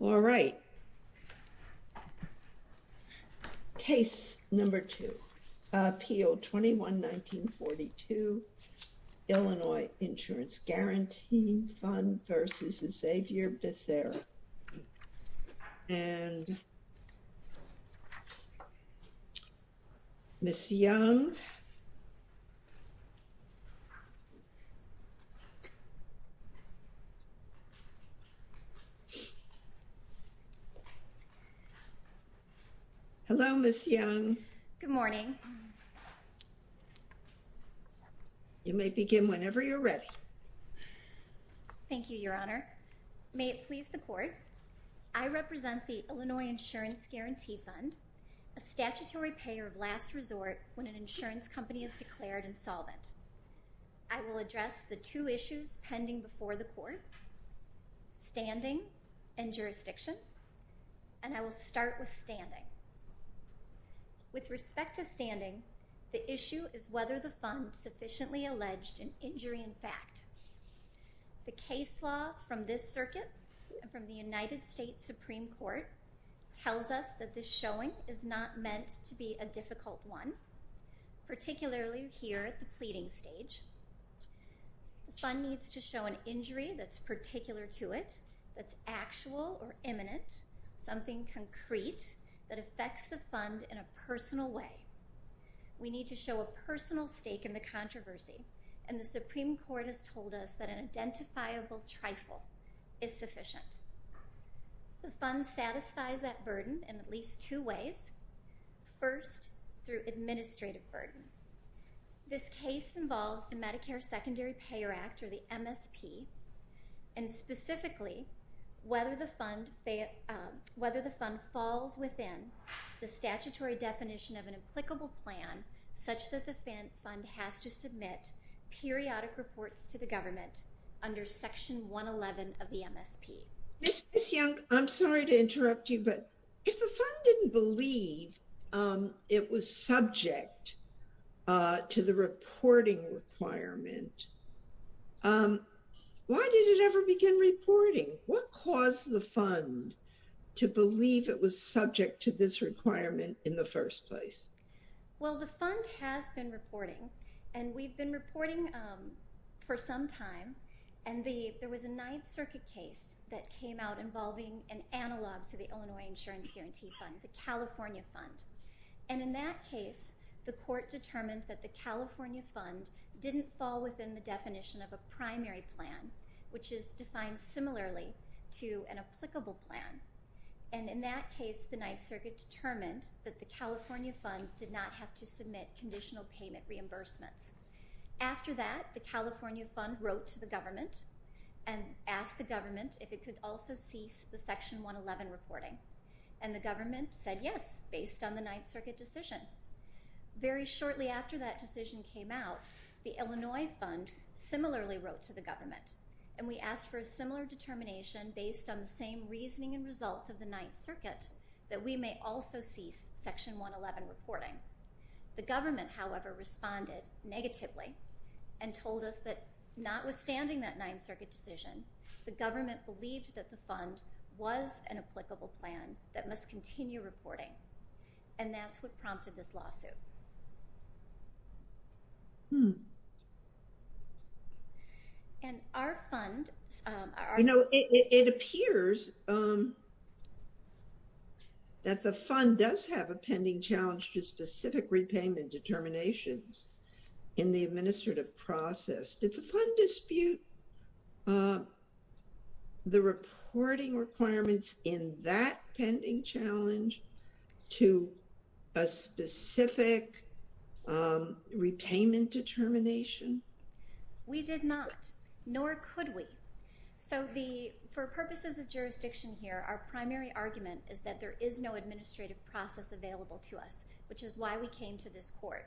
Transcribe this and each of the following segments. All right. Case number two, PO 21-1942, Illinois Insurance Guaranty Fund v. Xavier Becerra. And Ms. Young. Hello, Ms. Young. Good morning. You may begin whenever you're ready. Thank you, Your Honor. May it please the Court, I represent the Illinois Insurance Guaranty Fund, a statutory payer of last resort when an insurance company is declared insolvent. I will address the two issues pending before the Court, standing and jurisdiction, and I will start with standing. With respect to standing, the issue is whether the fund sufficiently alleged an injury in fact. The case law from this circuit and from the United States Supreme Court tells us that this showing is not meant to be a difficult one, particularly here at the pleading stage. The fund needs to show an injury that's particular to it, that's actual or imminent, something concrete that affects the fund in a personal way. We need to show a personal stake in the controversy, and the Supreme Court has told us that an identifiable trifle is sufficient. The fund satisfies that burden in at least two ways. First, through administrative burden. This case involves the Medicare Secondary Payer Act, or the MSP, and specifically whether the fund falls within the statutory definition of an applicable plan such that the fund has to submit periodic reports to the government under Section 111 of the MSP. I'm sorry to interrupt you, but if the fund didn't believe it was subject to the reporting requirement, why did it ever begin reporting? What caused the fund to believe it was subject to this requirement in the first place? Well, the fund has been reporting, and we've been reporting for some time. There was a Ninth Circuit case that came out involving an analog to the Illinois Insurance Guarantee Fund, the California fund. In that case, the court determined that the California fund didn't fall within the definition of a primary plan, which is defined similarly to an applicable plan. And in that case, the Ninth Circuit determined that the California fund did not have to submit conditional payment reimbursements. After that, the California fund wrote to the government and asked the government if it could also cease the Section 111 reporting. And the government said yes, based on the Ninth Circuit decision. Very shortly after that decision came out, the Illinois fund similarly wrote to the government, and we asked for a similar determination based on the same reasoning and results of the Ninth Circuit that we may also cease Section 111 reporting. The government, however, responded negatively and told us that notwithstanding that Ninth Circuit decision, the government believed that the fund was an applicable plan that must continue reporting. And that's what prompted this lawsuit. And our fund... You know, it appears that the fund does have a pending challenge to specific repayment determinations in the administrative process. Did the fund dispute the reporting requirements in that pending challenge to a specific repayment determination? We did not, nor could we. So for purposes of jurisdiction here, our primary argument is that there is no administrative process available to us, which is why we came to this court.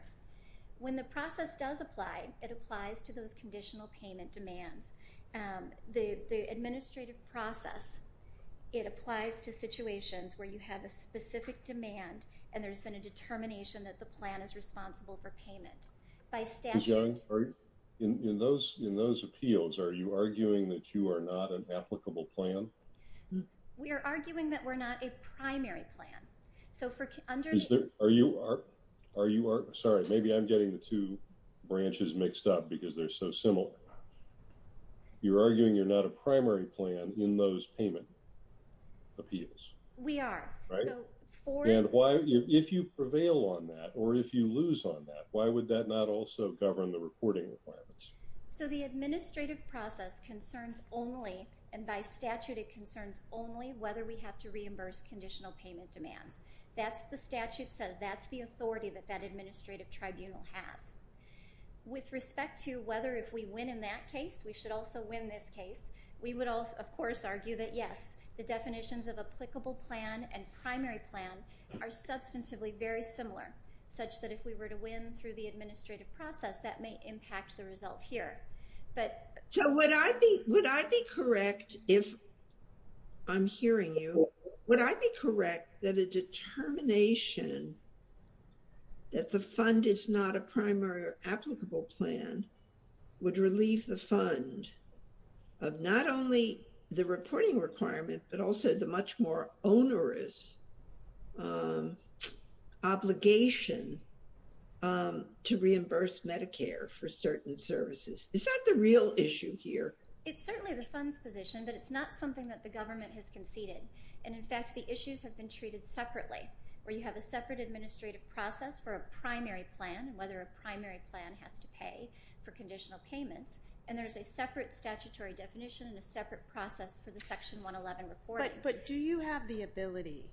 When the process does apply, it applies to those conditional payment demands. The administrative process, it applies to situations where you have a specific demand, and there's been a determination that the plan is responsible for payment. By statute... In those appeals, are you arguing that you are not an applicable plan? We are arguing that we're not a primary plan. Are you... Sorry, maybe I'm getting the two branches mixed up because they're so similar. You're arguing you're not a primary plan in those payment appeals? We are. And if you prevail on that, or if you lose on that, why would that not also govern the reporting requirements? So the administrative process concerns only, and by statute it concerns only, whether we have to reimburse conditional payment demands. That's what the statute says. That's the authority that that administrative tribunal has. With respect to whether if we win in that case, we should also win this case, we would of course argue that yes, the definitions of applicable plan and primary plan are substantively very similar, such that if we were to win through the administrative process, that may impact the result here. So would I be correct if... I'm hearing you. Would I be correct that a determination that the fund is not a primary or applicable plan would relieve the fund of not only the reporting requirement, but also the much more onerous obligation to reimburse Medicare for certain services? Is that the real issue here? It's certainly the fund's position, but it's not something that the government has conceded. And in fact, the issues have been treated separately, where you have a separate administrative process for a primary plan, whether a primary plan has to pay for conditional payments, and there's a separate statutory definition and a separate process for the Section 111 reporting. But do you have the ability,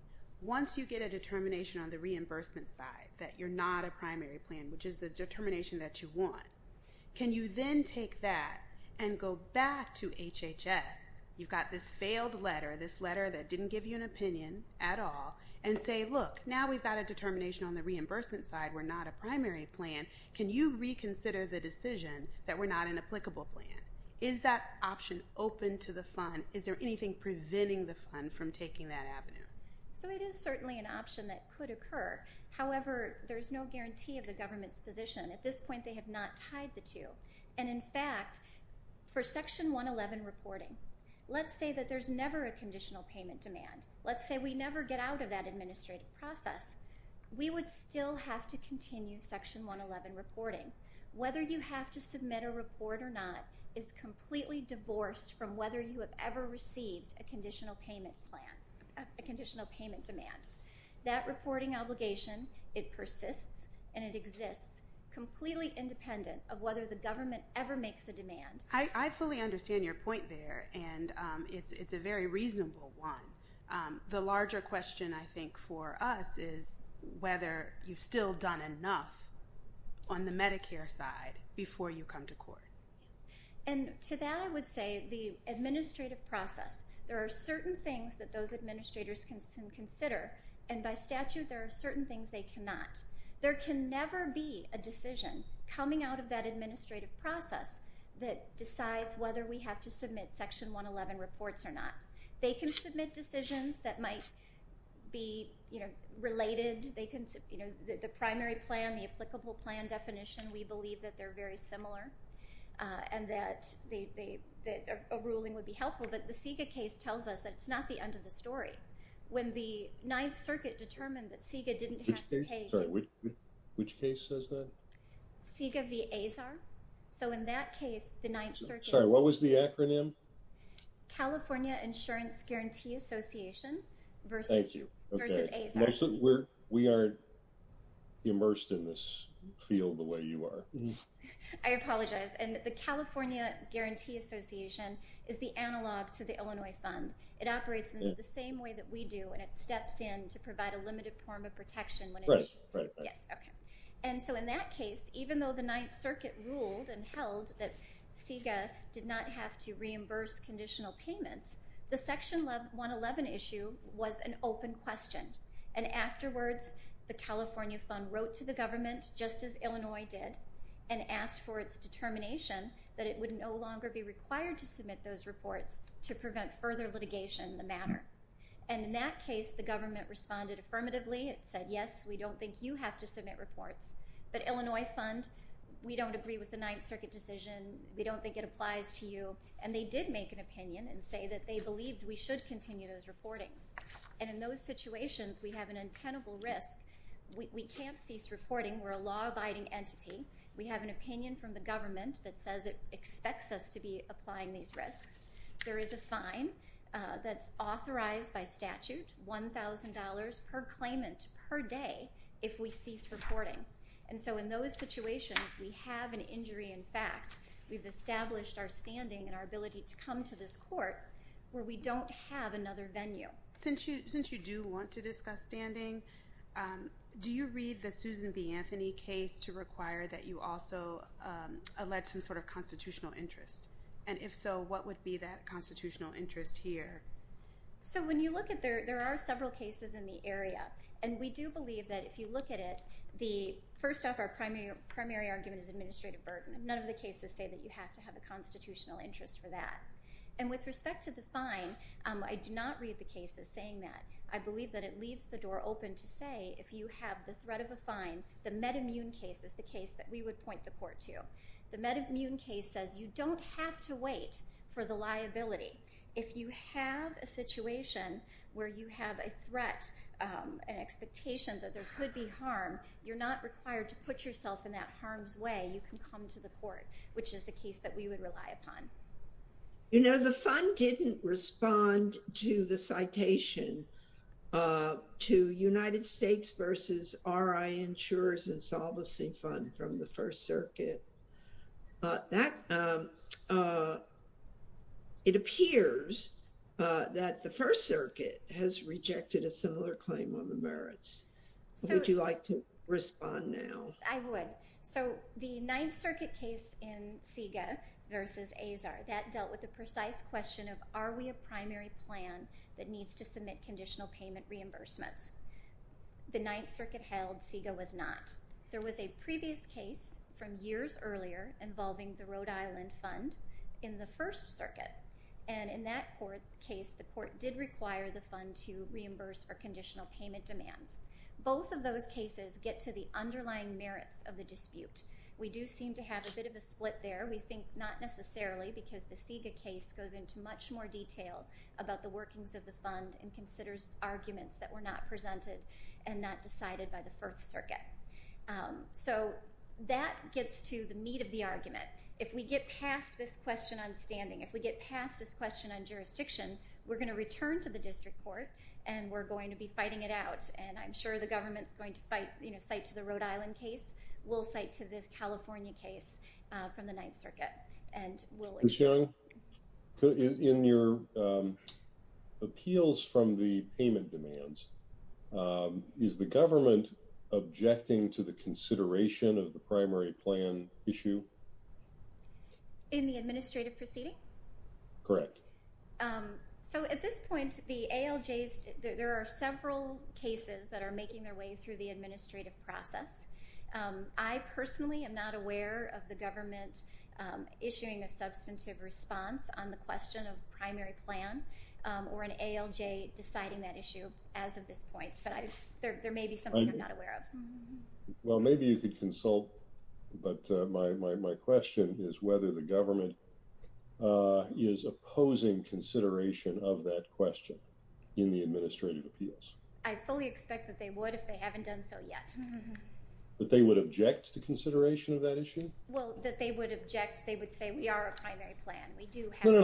once you get a determination on the reimbursement side that you're not a primary plan, which is the determination that you want, can you then take that and go back to HHS, you've got this failed letter, this letter that didn't give you an opinion at all, and say, look, now we've got a determination on the reimbursement side, we're not a primary plan, can you reconsider the decision that we're not an applicable plan? Is that option open to the fund? Is there anything preventing the fund from taking that avenue? So it is certainly an option that could occur. However, there's no guarantee of the government's position. At this point, they have not tied the two. And in fact, for Section 111 reporting, let's say that there's never a conditional payment demand. Let's say we never get out of that administrative process. We would still have to continue Section 111 reporting. Whether you have to submit a report or not is completely divorced from whether you have ever received a conditional payment plan, a conditional payment demand. That reporting obligation, it persists and it exists, completely independent of whether the government ever makes a demand. I fully understand your point there, and it's a very reasonable one. The larger question, I think, for us is whether you've still done enough on the Medicare side before you come to court. And to that I would say the administrative process. There are certain things that those administrators can consider, and by statute there are certain things they cannot. There can never be a decision coming out of that administrative process that decides whether we have to submit Section 111 reports or not. They can submit decisions that might be related. The primary plan, the applicable plan definition, we believe that they're very similar and that a ruling would be helpful. But the Sega case tells us that it's not the end of the story. When the Ninth Circuit determined that Sega didn't have to pay- Sorry, which case says that? Sega v. Azar. So in that case, the Ninth Circuit- Sorry, what was the acronym? California Insurance Guarantee Association versus- Thank you. Versus Azar. We are immersed in this field the way you are. I apologize. And the California Guarantee Association is the analog to the Illinois Fund. It operates in the same way that we do, and it steps in to provide a limited form of protection. Right, right. Yes, okay. And so in that case, even though the Ninth Circuit ruled and held that Sega did not have to reimburse conditional payments, the Section 111 issue was an open question. And afterwards, the California Fund wrote to the government, just as Illinois did, and asked for its determination that it would no longer be required to submit those reports to prevent further litigation in the matter. And in that case, the government responded affirmatively. It said, yes, we don't think you have to submit reports. But Illinois Fund, we don't agree with the Ninth Circuit decision. We don't think it applies to you. And they did make an opinion and say that they believed we should continue those reportings. And in those situations, we have an untenable risk. We can't cease reporting. We're a law-abiding entity. We have an opinion from the government that says it expects us to be applying these risks. There is a fine that's authorized by statute, $1,000 per claimant per day, if we cease reporting. And so in those situations, we have an injury in fact. We've established our standing and our ability to come to this court where we don't have another venue. Since you do want to discuss standing, do you read the Susan B. Anthony case to require that you also allege some sort of constitutional interest? And if so, what would be that constitutional interest here? So when you look at it, there are several cases in the area. And we do believe that if you look at it, first off, our primary argument is administrative burden. None of the cases say that you have to have a constitutional interest for that. And with respect to the fine, I do not read the cases saying that. I believe that it leaves the door open to say if you have the threat of a fine, the meta-immune case is the case that we would point the court to. The meta-immune case says you don't have to wait for the liability. If you have a situation where you have a threat, an expectation that there could be harm, you're not required to put yourself in that harm's way. You can come to the court, which is the case that we would rely upon. You know, the fund didn't respond to the citation to United States versus R.I. Insurer's Insolvency Fund from the First Circuit. It appears that the First Circuit has rejected a similar claim on the merits. Would you like to respond now? I would. So the Ninth Circuit case in SIGA versus AZAR, that dealt with the precise question of, are we a primary plan that needs to submit conditional payment reimbursements? The Ninth Circuit held SIGA was not. There was a previous case from years earlier involving the Rhode Island fund in the First Circuit. And in that case, the court did require the fund to reimburse for conditional payment demands. Both of those cases get to the underlying merits of the dispute. We do seem to have a bit of a split there. We think not necessarily because the SIGA case goes into much more detail about the workings of the fund and considers arguments that were not presented and not decided by the First Circuit. So that gets to the meat of the argument. If we get past this question on standing, if we get past this question on jurisdiction, we're going to return to the district court and we're going to be fighting it out. And I'm sure the government's going to cite to the Rhode Island case. We'll cite to this California case from the Ninth Circuit. Ms. Young, in your appeals from the payment demands, is the government objecting to the consideration of the primary plan issue? In the administrative proceeding? Correct. So at this point, the ALJs, there are several cases that are making their way through the administrative process. I personally am not aware of the government issuing a substantive response on the question of primary plan or an ALJ deciding that issue as of this point. But there may be something I'm not aware of. Well, maybe you could consult. But my question is whether the government is opposing consideration of that question in the administrative appeals. I fully expect that they would if they haven't done so yet. That they would object to consideration of that issue? Well, that they would object, they would say we are a primary plan. No, no,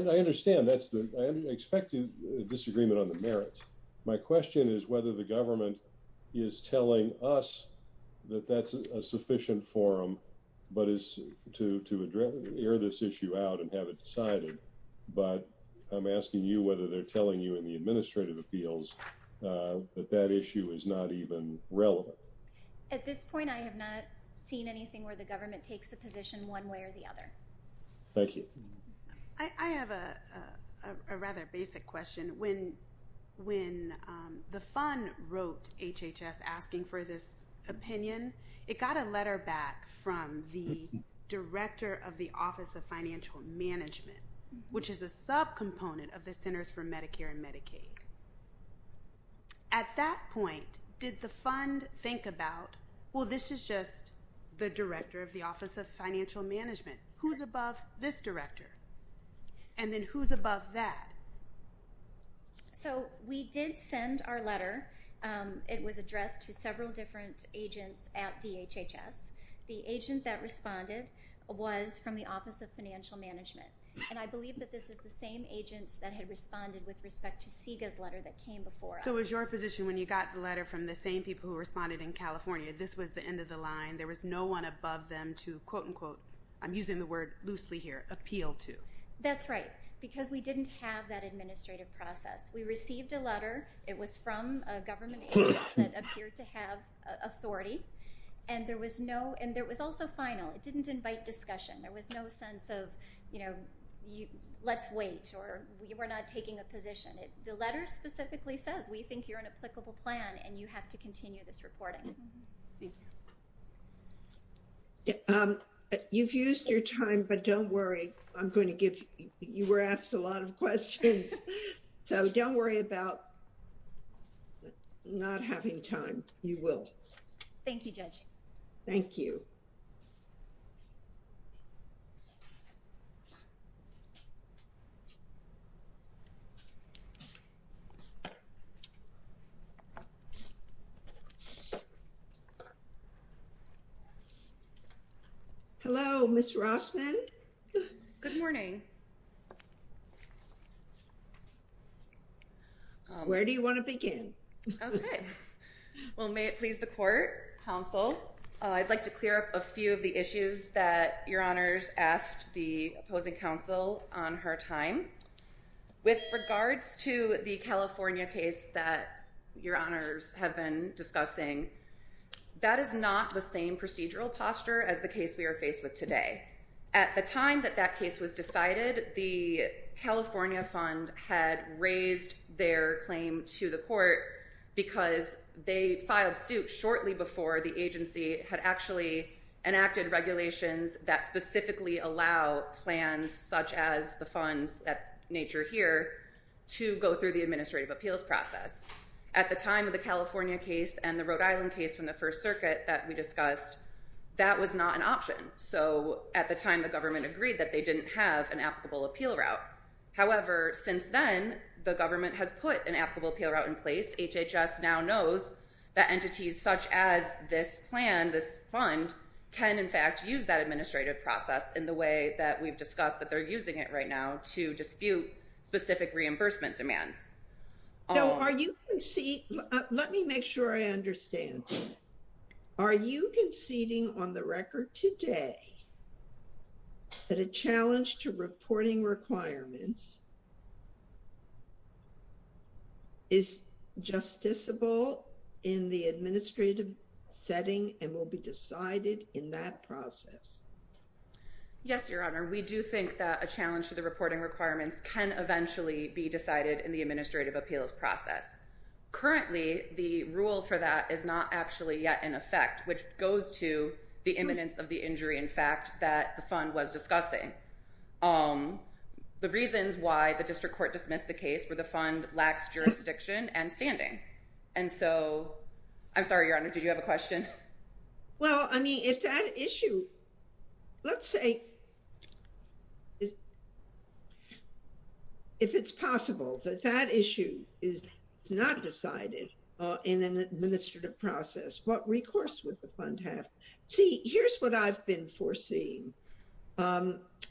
no, I understand. I expect a disagreement on the merits. My question is whether the government is telling us that that's a sufficient forum to air this issue out and have it decided. But I'm asking you whether they're telling you in the administrative appeals that that issue is not even relevant. At this point, I have not seen anything where the government takes a position one way or the other. Thank you. I have a rather basic question. When the fund wrote HHS asking for this opinion, it got a letter back from the Director of the Office of Financial Management, which is a subcomponent of the Centers for Medicare and Medicaid. At that point, did the fund think about, well, this is just the Director of the Office of Financial Management. Who's above this director? And then who's above that? So we did send our letter. It was addressed to several different agents at DHHS. The agent that responded was from the Office of Financial Management. And I believe that this is the same agents that had responded with respect to SIGA's letter that came before us. So is your position when you got the letter from the same people who responded in California, this was the end of the line? There was no one above them to, quote, unquote, I'm using the word loosely here, appeal to? That's right, because we didn't have that administrative process. We received a letter. It was from a government agent that appeared to have authority. And there was also final. It didn't invite discussion. There was no sense of, you know, let's wait or we're not taking a position. The letter specifically says we think you're an applicable plan and you have to continue this reporting. You've used your time, but don't worry. I'm going to give you were asked a lot of questions. So don't worry about not having time. You will. Thank you, Judge. Thank you. Hello, Ms. Rossman. Good morning. Where do you want to begin? Okay. Well, may it please the court, counsel. I'd like to clear up a few of the issues that your honors asked the opposing counsel on her time. With regards to the California case that your honors have been discussing, that is not the same procedural posture as the case we are faced with today. At the time that that case was decided, the California fund had raised their claim to the court because they filed suit shortly before the agency had actually enacted regulations that specifically allow plans such as the funds that nature here to go through the administrative appeals process. At the time of the California case and the Rhode Island case from the First Circuit that we discussed, that was not an option. So at the time, the government agreed that they didn't have an applicable appeal route. However, since then, the government has put an applicable appeal route in place. HHS now knows that entities such as this plan, this fund, can in fact use that administrative process in the way that we've discussed that they're using it right now to dispute specific reimbursement demands. So are you conceding? Let me make sure I understand. Are you conceding on the record today that a challenge to reporting requirements is justiciable in the administrative setting and will be decided in that process? Yes, your honor. We do think that a challenge to the reporting requirements can eventually be decided in the administrative appeals process. Currently, the rule for that is not actually yet in effect, which goes to the imminence of the injury, in fact, that the fund was discussing. The reasons why the district court dismissed the case were the fund lacks jurisdiction and standing. And so, I'm sorry, your honor, did you have a question? Well, I mean, if that issue, let's say, if it's possible that that issue is discussed, but it's not decided in an administrative process, what recourse would the fund have? See, here's what I've been foreseeing. I've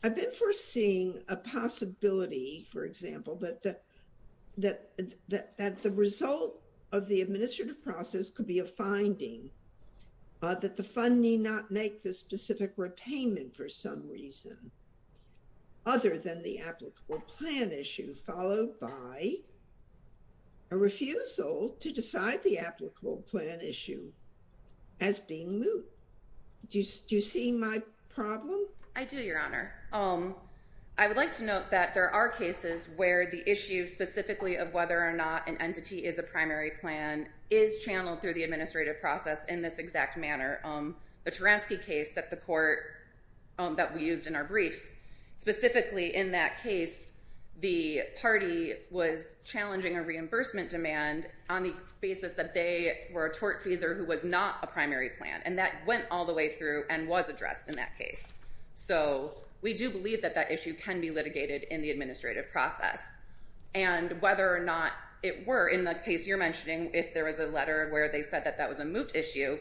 been foreseeing a possibility, for example, that the result of the administrative process could be a finding, that the fund need not make the specific repayment for some reason, other than the applicable plan issue, followed by a refusal to decide the applicable plan issue as being moot. Do you see my problem? I do, your honor. I would like to note that there are cases where the issue specifically of whether or not an entity is a primary plan is channeled through the administrative process in this exact manner. The Taranski case that the court, that we used in our briefs, specifically in that case, the party was challenging a reimbursement demand on the basis that they were a tortfeasor who was not a primary plan. And that went all the way through and was addressed in that case. So we do believe that that issue can be litigated in the administrative process. And whether or not it were in the case you're mentioning, if there was a letter where they said that that was a moot issue,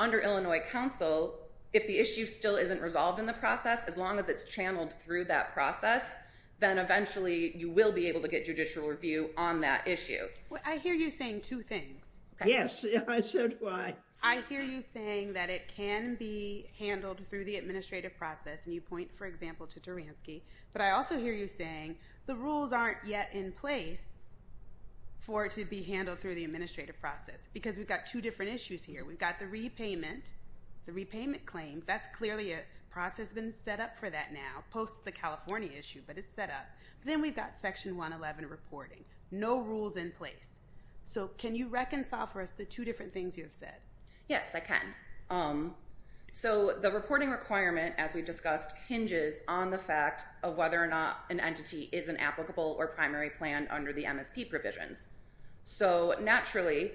under Illinois counsel, if the issue still isn't resolved in the process, as long as it's channeled through that process, then eventually you will be able to get judicial review on that issue. I hear you saying two things. Yes, I said why. I hear you saying that it can be handled through the administrative process, and you point, for example, to Taranski. But I also hear you saying the rules aren't yet in place for it to be handled through the administrative process. Because we've got two different issues here. We've got the repayment, the repayment claims. That's clearly a process that's been set up for that now, post the California issue, but it's set up. Then we've got Section 111 reporting. No rules in place. So can you reconcile for us the two different things you've said? Yes, I can. So the reporting requirement, as we discussed, hinges on the fact of whether or not an entity is an applicable or primary plan under the MSP provisions. So naturally,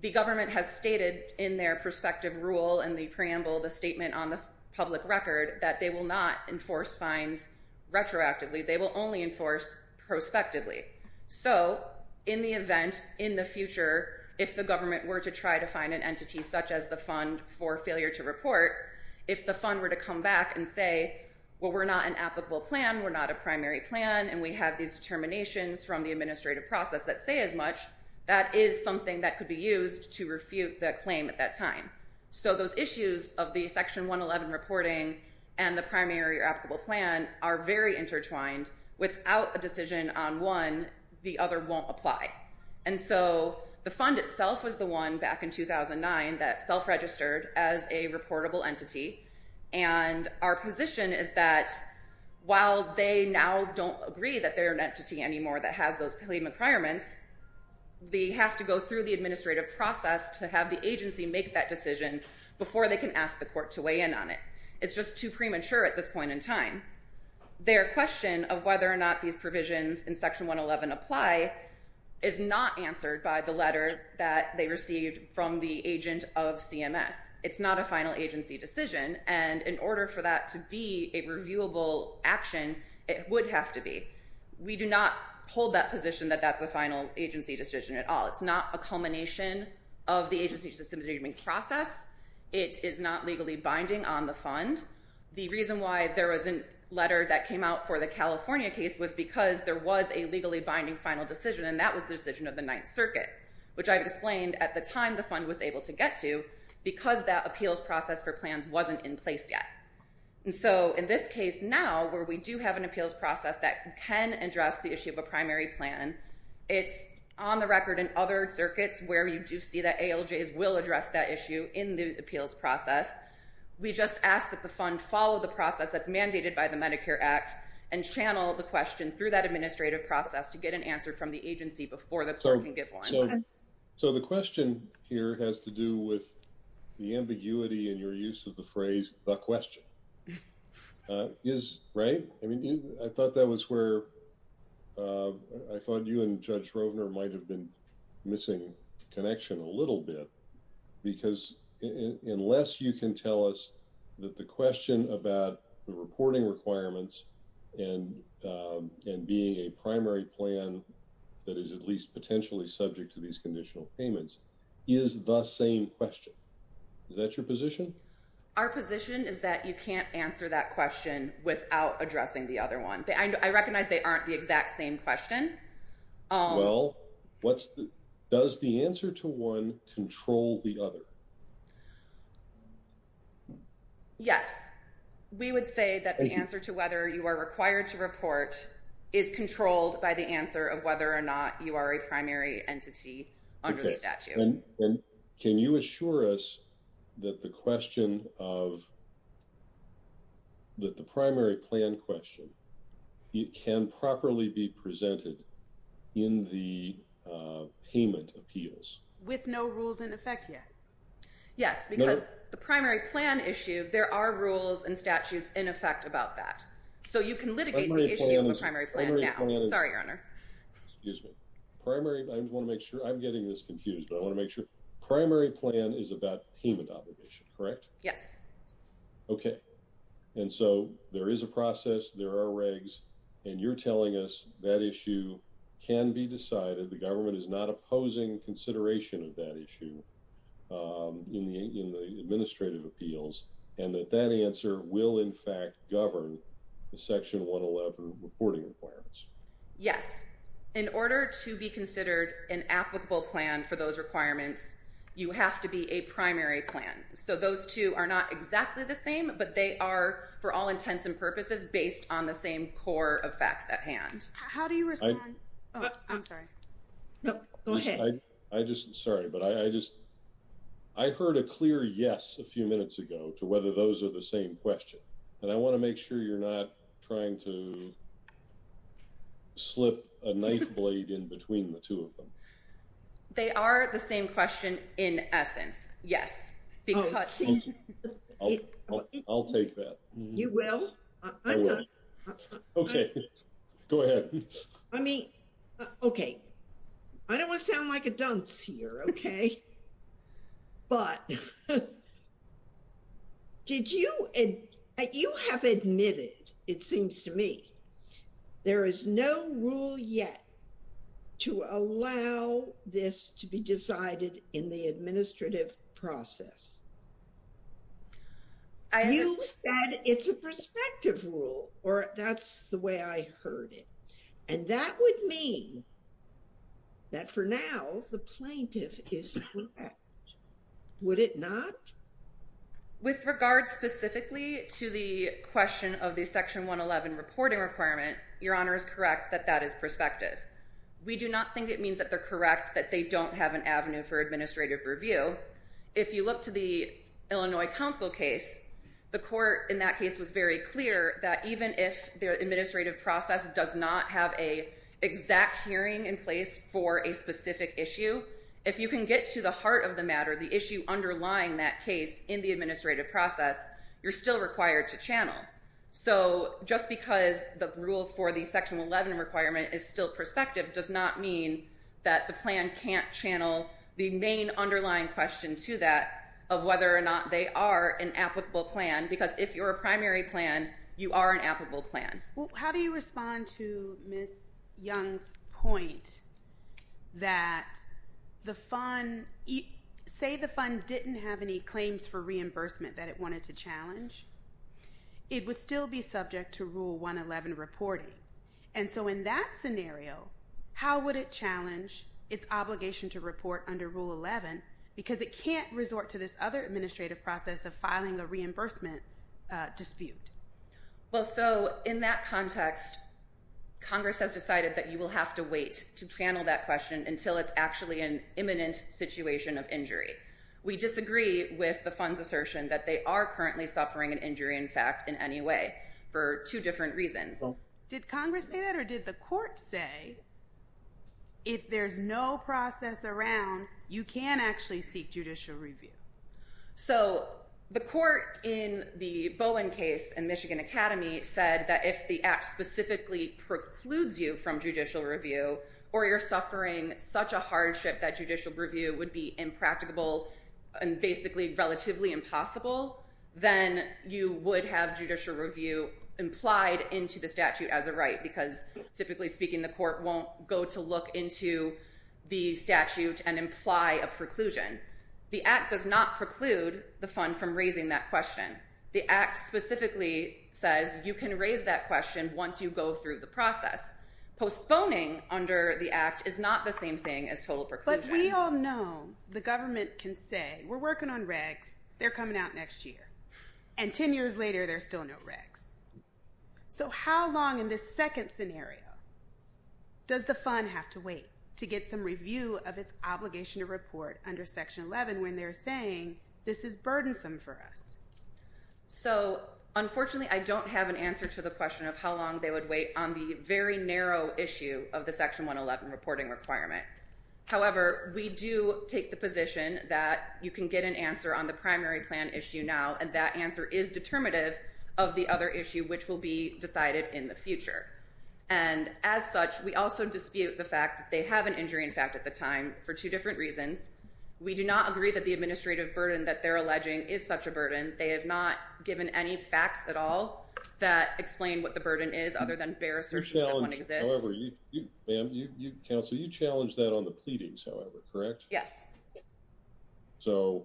the government has stated in their prospective rule and the preamble, the statement on the public record, that they will not enforce fines retroactively. They will only enforce prospectively. So in the event, in the future, if the government were to try to find an entity such as the fund for failure to report, if the fund were to come back and say, well, we're not an applicable plan, we're not a primary plan, and we have these determinations from the administrative process that say as much, that is something that could be used to refute that claim at that time. So those issues of the Section 111 reporting and the primary or applicable plan are very intertwined. Without a decision on one, the other won't apply. And so the fund itself was the one back in 2009 that self-registered as a reportable entity. And our position is that while they now don't agree that they're an entity anymore that has those claim requirements, they have to go through the administrative process to have the agency make that decision before they can ask the court to weigh in on it. It's just too premature at this point in time. Their question of whether or not these provisions in Section 111 apply is not answered by the letter that they received from the agent of CMS. It's not a final agency decision. And in order for that to be a reviewable action, it would have to be. We do not hold that position that that's a final agency decision at all. It's not a culmination of the agency's decision-making process. It is not legally binding on the fund. The reason why there was a letter that came out for the California case was because there was a legally binding final decision and that was the decision of the Ninth Circuit, which I've explained at the time the fund was able to get to, because that appeals process for plans wasn't in place yet. And so in this case now, where we do have an appeals process that can address the issue of a primary plan, it's on the record in other circuits where you do see that ALJs will address that issue in the appeals process. We just ask that the fund follow the process that's mandated by the Medicare Act and channel the question through that administrative process to get an answer from the agency before the court can give one. So the question here has to do with the ambiguity in your use of the phrase, the question. I thought that was where I thought you and Judge Rovner might have been missing connection a little bit because unless you can tell us that the question about the reporting requirements and being a primary plan that is at least potentially subject to these conditional payments is the same question. Is that your position? Our position is that you can't answer that question without addressing the other one. I recognize they aren't the exact same question. Well, does the answer to one control the other? Yes. We would say that the answer to whether you are required to report is controlled by the answer of whether or not you are a primary entity under the statute. Can you assure us that the question of, that the primary plan question, it can properly be presented in the payment appeals? With no rules in effect yet? Yes, because the primary plan issue, there are rules and statutes in effect about that. So you can litigate the issue of a primary plan now. Sorry, Your Honor. I'm getting this confused, but I want to make sure. Primary plan is about payment obligation, correct? Yes. Okay. And so there is a process, there are regs, and you're telling us that issue can be decided, the government is not opposing consideration of that issue in the administrative appeals, and that that answer will in fact govern the section 111 reporting requirements. Yes. In order to be considered an applicable plan for those requirements, you have to be a primary plan. So those two are not How do you respond? I'm sorry. Go ahead. I just, sorry, but I just I heard a clear yes a few minutes ago to whether those are the same question. And I want to make sure you're not trying to slip a knife blade in between the two of them. They are the same question in essence, yes. Because I'll take that. You will? I will. Okay. Go ahead. I mean, okay. I don't want to sound like a dunce here. Okay. But did you you have admitted, it seems to me, there is no rule yet to allow this to be decided in the administrative process. You said it's a prospective rule, or that's the way I heard it. And that would mean that for now, the plaintiff is correct. Would it not? With regard specifically to the question of the section 111 reporting requirement, your honor is correct that that is prospective. We do not think it means that they're correct that they don't have an avenue for administrative review. If you look to the Illinois counsel case, the court in that case was very clear that even if the administrative process does not have an exact hearing in place for a specific issue, if you can get to the heart of the matter, the issue underlying that case in the administrative process, you're still required to channel. So just because the rule for the section 11 requirement is still prospective does not mean that the plan can't channel the main underlying question to that of whether or not they are an applicable plan. Because if you're a primary plan, you are an applicable plan. Well, how do you respond to Ms. Young's point that the fund, say the fund didn't have any claims for reimbursement that it wanted to challenge, it would still be subject to rule 111 reporting. And so in that scenario, how would it challenge its obligation to report under rule 11 because it can't resort to this other administrative process of filing a reimbursement dispute? Well, so in that context, Congress has decided that you will have to wait to channel that question until it's actually an imminent situation of injury. We disagree with the fund's assertion that they are currently suffering an injury in fact in any way for two different reasons. Did Congress say that or did the court say that if there's no process around, you can actually seek judicial review? So the court in the Bowen case in Michigan Academy said that if the act specifically precludes you from judicial review or you're suffering such a hardship that judicial review would be impracticable and basically relatively impossible, then you would have judicial review implied into the statute as a right because typically speaking, the court won't go to look into the statute and imply a preclusion. The act does not preclude the fund from raising that question. The act specifically says you can raise that question once you go through the process. Postponing under the act is not the same thing as total But we all know the government can say, we're working on regs, they're coming out next year. And ten years later, there's still no regs. So how long in this second scenario does the fund have to wait to get some review of its obligation to report under Section 11 when they're saying this is burdensome for us? So unfortunately, I don't have an answer to the question of how long they would wait on the very narrow issue of the Section 111 reporting requirement. However, we do take the position that you can get an answer on the primary plan issue now and that answer is determinative of the other issue which will be decided in the future. And as such, we also dispute the fact that they have an injury in fact at the time for two different reasons. We do not agree that the burden is other than bare assertions that one exists. However, counsel, you challenged that on the pleadings, however, correct? Yes. So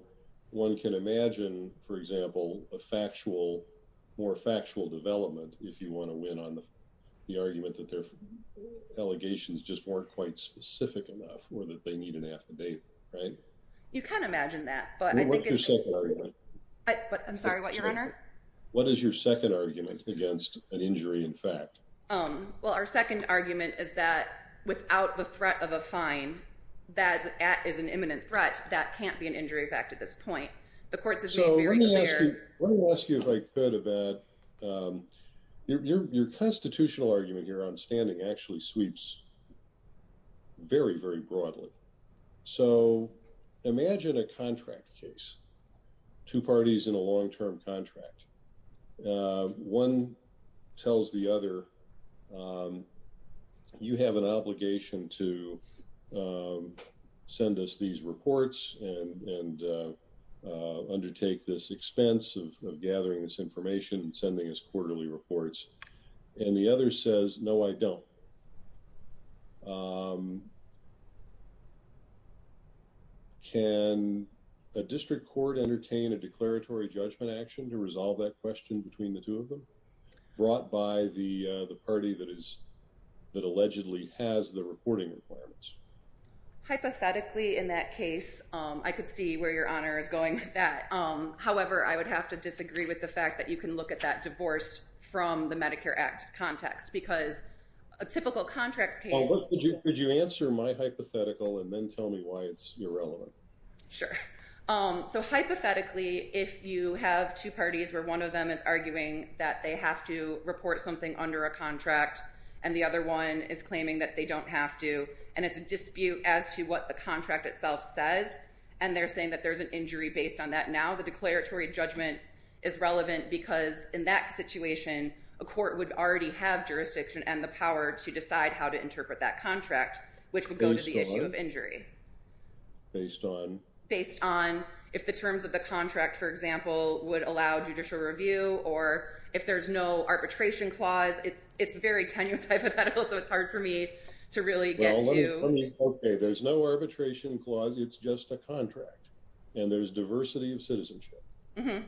one can imagine, for example, a factual, more factual development if you want to win on the argument that their allegations just weren't quite specific enough or that they need an affidavit, right? You can imagine that. What is your second argument against an injury in fact? Well, our second argument is that without the threat of a fine, that is an imminent threat, that can't be an injury in fact at this point. The courts have been very clear. Let me ask you if I could about your constitutional argument here on standing actually sweeps very, very broadly. So imagine a contract case, two parties in a long-term contract. One tells the other, you have an obligation to send us these reports and undertake this expense of gathering this information and sending us quarterly reports. And the other says, no, I don't. Can a district court entertain a declaratory judgment action to resolve that question between the two of them brought by the party that allegedly has the reporting requirements? Hypothetically, in that case, I could see where your honor is going with that. However, I would have to disagree with the fact that you can look at that divorced from the Medicare Act context because a typical contracts case... Could you answer my hypothetical and then tell me why it's irrelevant? Sure. So hypothetically, if you have two parties where one of them is arguing that they have to report something under a contract and the other one is claiming that they don't have to. And it's a dispute as to what the contract itself says. And they're saying that there's an injury based on that. Now, the declaratory judgment is relevant because in that situation, a court would already have jurisdiction and the power to decide how to interpret that contract, which would go to the issue of injury. Based on? Based on if the terms of the contract, for example, would allow judicial review or if there's no arbitration clause. It's very tenuous hypothetical, so it's hard for me to really get to... Okay, there's no arbitration clause. It's just a contract. And there's diversity of citizenship. Would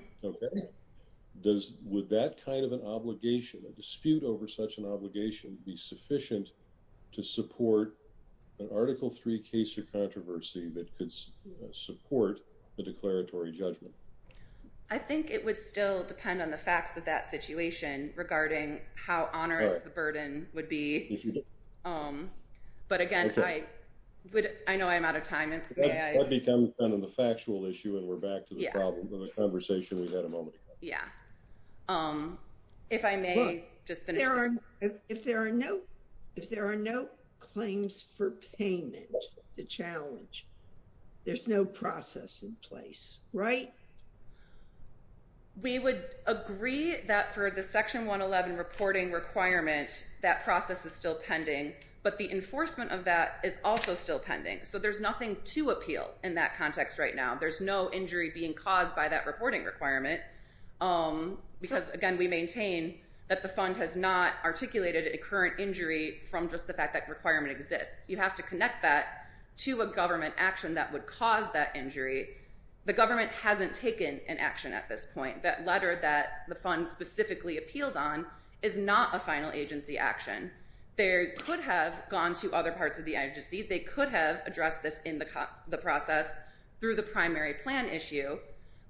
that kind of an obligation, a dispute over such an obligation be sufficient to support an Article 3 case or controversy that could support the declaratory judgment? I think it would still depend on the facts of that situation regarding how onerous the burden would be. But again, I know I'm out of time. That becomes kind of the factual issue and we're getting back to the problem of the conversation we had a moment ago. If there are no claims for payment to challenge, there's no process in place, right? We would agree that for the Section 111 reporting requirement, that process is still pending. But the enforcement of that is also still pending. So there's nothing to appeal in that context right now. There's no injury being caused by that reporting requirement. Because again, we maintain that the fund has not articulated a current injury from just the fact that requirement exists. You have to connect that to a government action that would cause that injury. The government hasn't taken an action at this point. That letter that the fund specifically appealed on is not a final agency action. They could have gone to other parts of the agency. They could have addressed this in the process through the primary plan issue.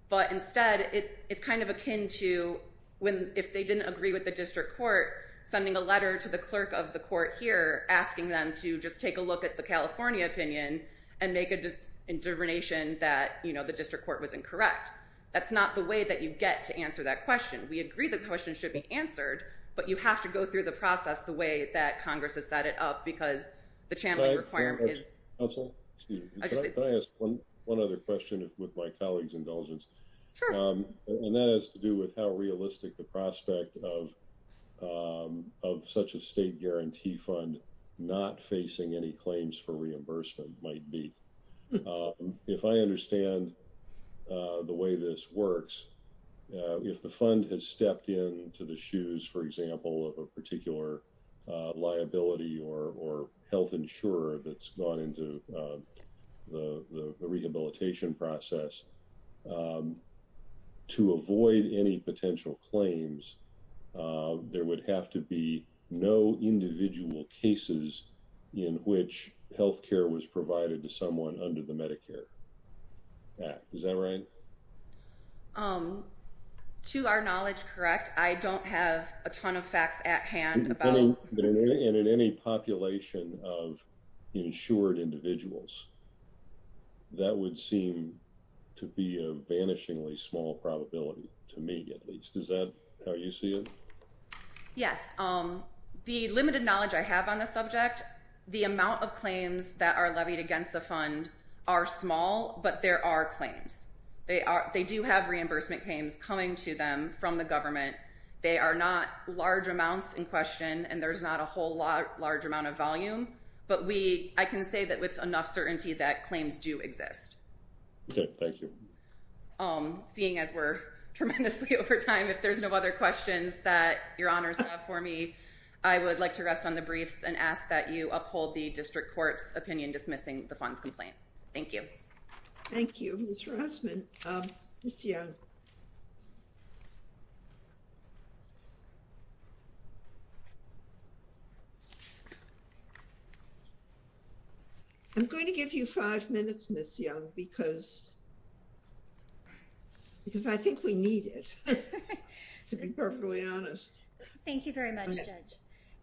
But instead, it's kind of akin to if they didn't agree with the district court, sending a letter to the clerk of the court here asking them to just take a look at the California opinion and make a determination that the district court was incorrect. That's not the way that you get to answer that question. We agree the question should be answered, but you have to go through the process the way that Congress has set it up because the channeling requirement is... Can I ask one other question with my colleague's indulgence? And that has to do with how realistic the prospect of such a state guarantee fund not facing any claims for reimbursement might be. If I understand the way this works, if the fund has stepped into the shoes, for example, of a particular liability or health insurer that's gone into the rehabilitation process, to avoid any potential claims, there would have to be no individual cases in which health care was provided to someone under the Medicare Act. Is that right? To our knowledge, correct. I don't have a ton of facts at hand about... And in any population of insured individuals, that would seem to be a vanishingly small probability to me at least. Is that how you see it? Yes. The limited knowledge I have on the subject, the amount of claims that are levied against the fund are small, but there are claims. They do have reimbursement claims coming to them from the government. They are not large amounts in question, and there's not a whole large amount of volume. But I can say that with enough certainty that claims do exist. Okay. Thank you. Seeing as we're tremendously over time, if there's no other questions that your honors have for me, I would like to rest on the briefs and ask that you uphold the district court's opinion in dismissing the funds complaint. Thank you. Thank you, Ms. Rossman. Ms. Young. I'm going to give you five minutes, Ms. Young, because I think we need it, to be perfectly honest. Thank you very much, Judge.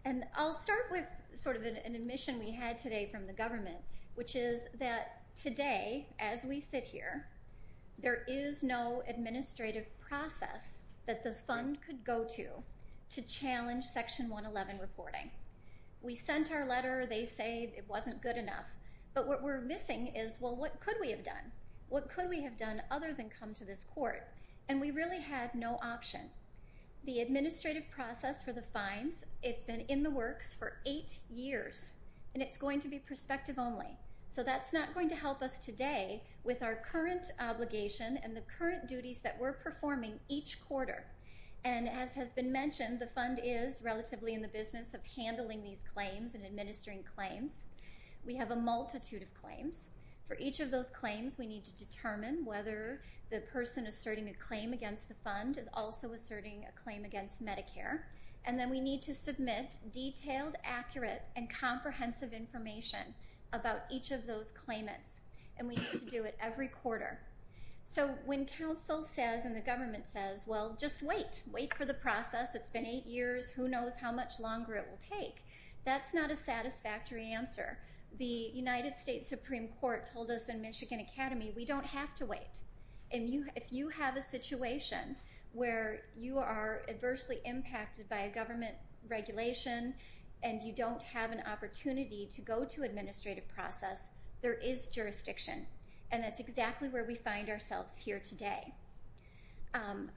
And I'll start with sort of an admission we had today from the government, which is that today, as we sit here, there is no administrative process that the fund could go to to challenge Section 111 reporting. We sent our letter. They say it wasn't good enough. But what we're missing is, well, what could we have done? What could we have done other than come to this court? And we really had no option. The administrative process for the fines, it's been in the works for eight years, and it's going to be prospective only. So that's not going to help us today with our current obligation and the current duties that we're performing each quarter. And as has been mentioned, the fund is relatively in the business of determining whether the person asserting a claim against the fund is also asserting a claim against Medicare. And then we need to submit detailed, accurate, and comprehensive information about each of those claimants. And we need to do it every quarter. So when counsel says and the government says, well, just wait. Wait for the process. It's been eight years. Who knows how much longer it will take? That's not a satisfactory answer. The United States Supreme Court told us in Michigan Academy, we don't have to wait. And if you have a situation where you are adversely impacted by a government regulation and you don't have an opportunity to go to administrative process, there is jurisdiction. And that's exactly where we find ourselves here today.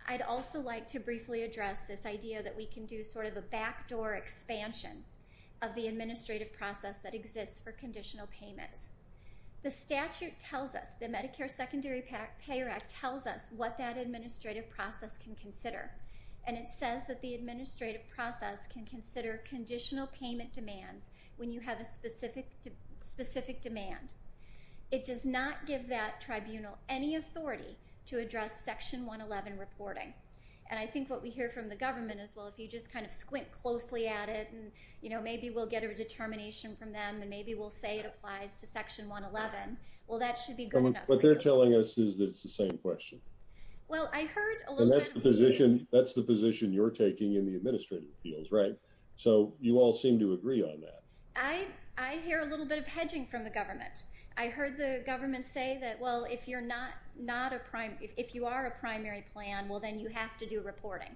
I'd also like to briefly address this idea that we can do sort of a backdoor expansion of the administrative process that exists for conditional payments. The statute tells us, the Medicare Secondary Payer Act tells us what that administrative process can consider. And it says that the administrative process can consider conditional payment demands when you have a specific demand. It does not give that tribunal any authority to address Section 111 reporting. And I think what we hear from the government is, well, if you just kind of squint closely at it and maybe we'll get a determination from them and maybe we'll say it applies to Section 111. Well, that should be good enough. What they're telling us is that it's the same question. Well, I heard a little bit... And that's the position you're taking in the administrative fields, right? So you all seem to agree on that. I hear a little bit of hedging from the government. I heard the government say that, well, if you're not a primary... If you are a primary plan, well, then you have to do reporting.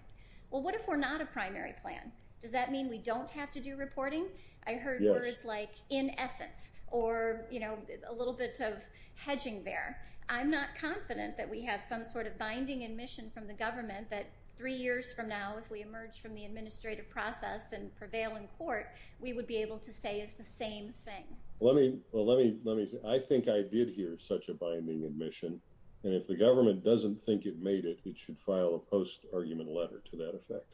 Well, what if we're not a primary plan? Does that mean we don't have to do reporting? I heard words like, in essence, or a little bit of hedging there. I'm not confident that we have some sort of binding admission from the government that three years from now, if we emerge from the administrative process and prevail in court, we would be able to say it's the same thing. Well, let me... I think I did hear such a binding admission. And if the government doesn't think it made it, it should file a post-argument letter to that effect.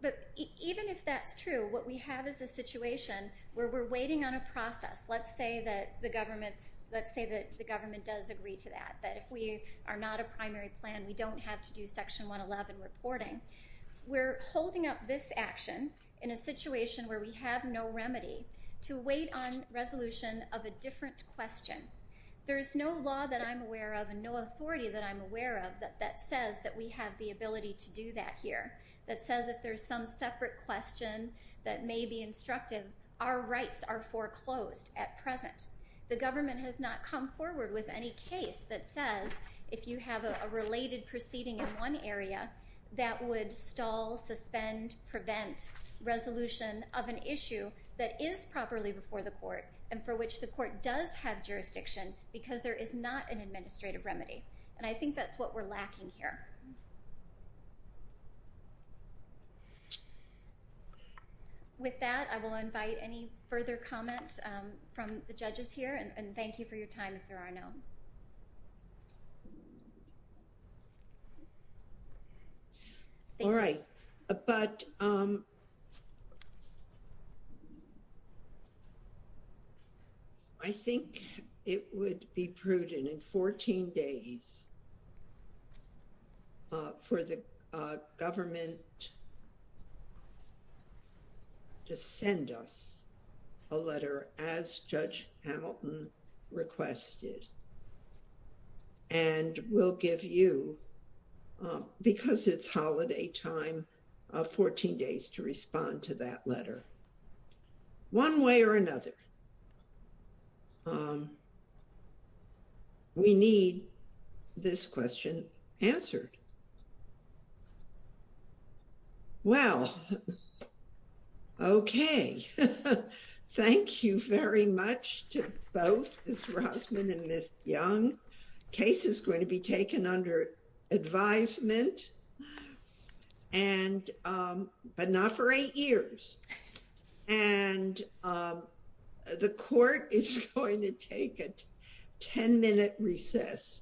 But even if that's true, what we have is a situation where we're waiting on a process. Let's say that the government does agree to that. But if we are not a primary plan, we don't have to do Section 111 reporting. We're holding up this action in a situation where we have no remedy to wait on resolution of a different question. There is no law that I'm aware of and no authority that I'm aware of that says that we have the ability to do that here. That says if there's some separate question that may be instructive, our rights are foreclosed at present. The government has not come forward with any case that says if you have a related proceeding in one area, that would stall, suspend, prevent resolution of an issue that is properly before the court and for which the court does have jurisdiction because there is not an administrative remedy. And I think that's what we're lacking here. With that, I will invite any further comments from the judges here, and thank you for your time if there are none. All right. But I think it would be prudent in 14 days for the government to send us a letter as Judge Hamilton requested. And we'll give you, because it's holiday time, 14 days to respond to that letter. One way or another, we need this question answered. Well, okay. Thank you very much to both Ms. Rossman and Ms. Young. Case is going to be taken under advisement, but not for eight years. And the court is going to take a 10-minute recess.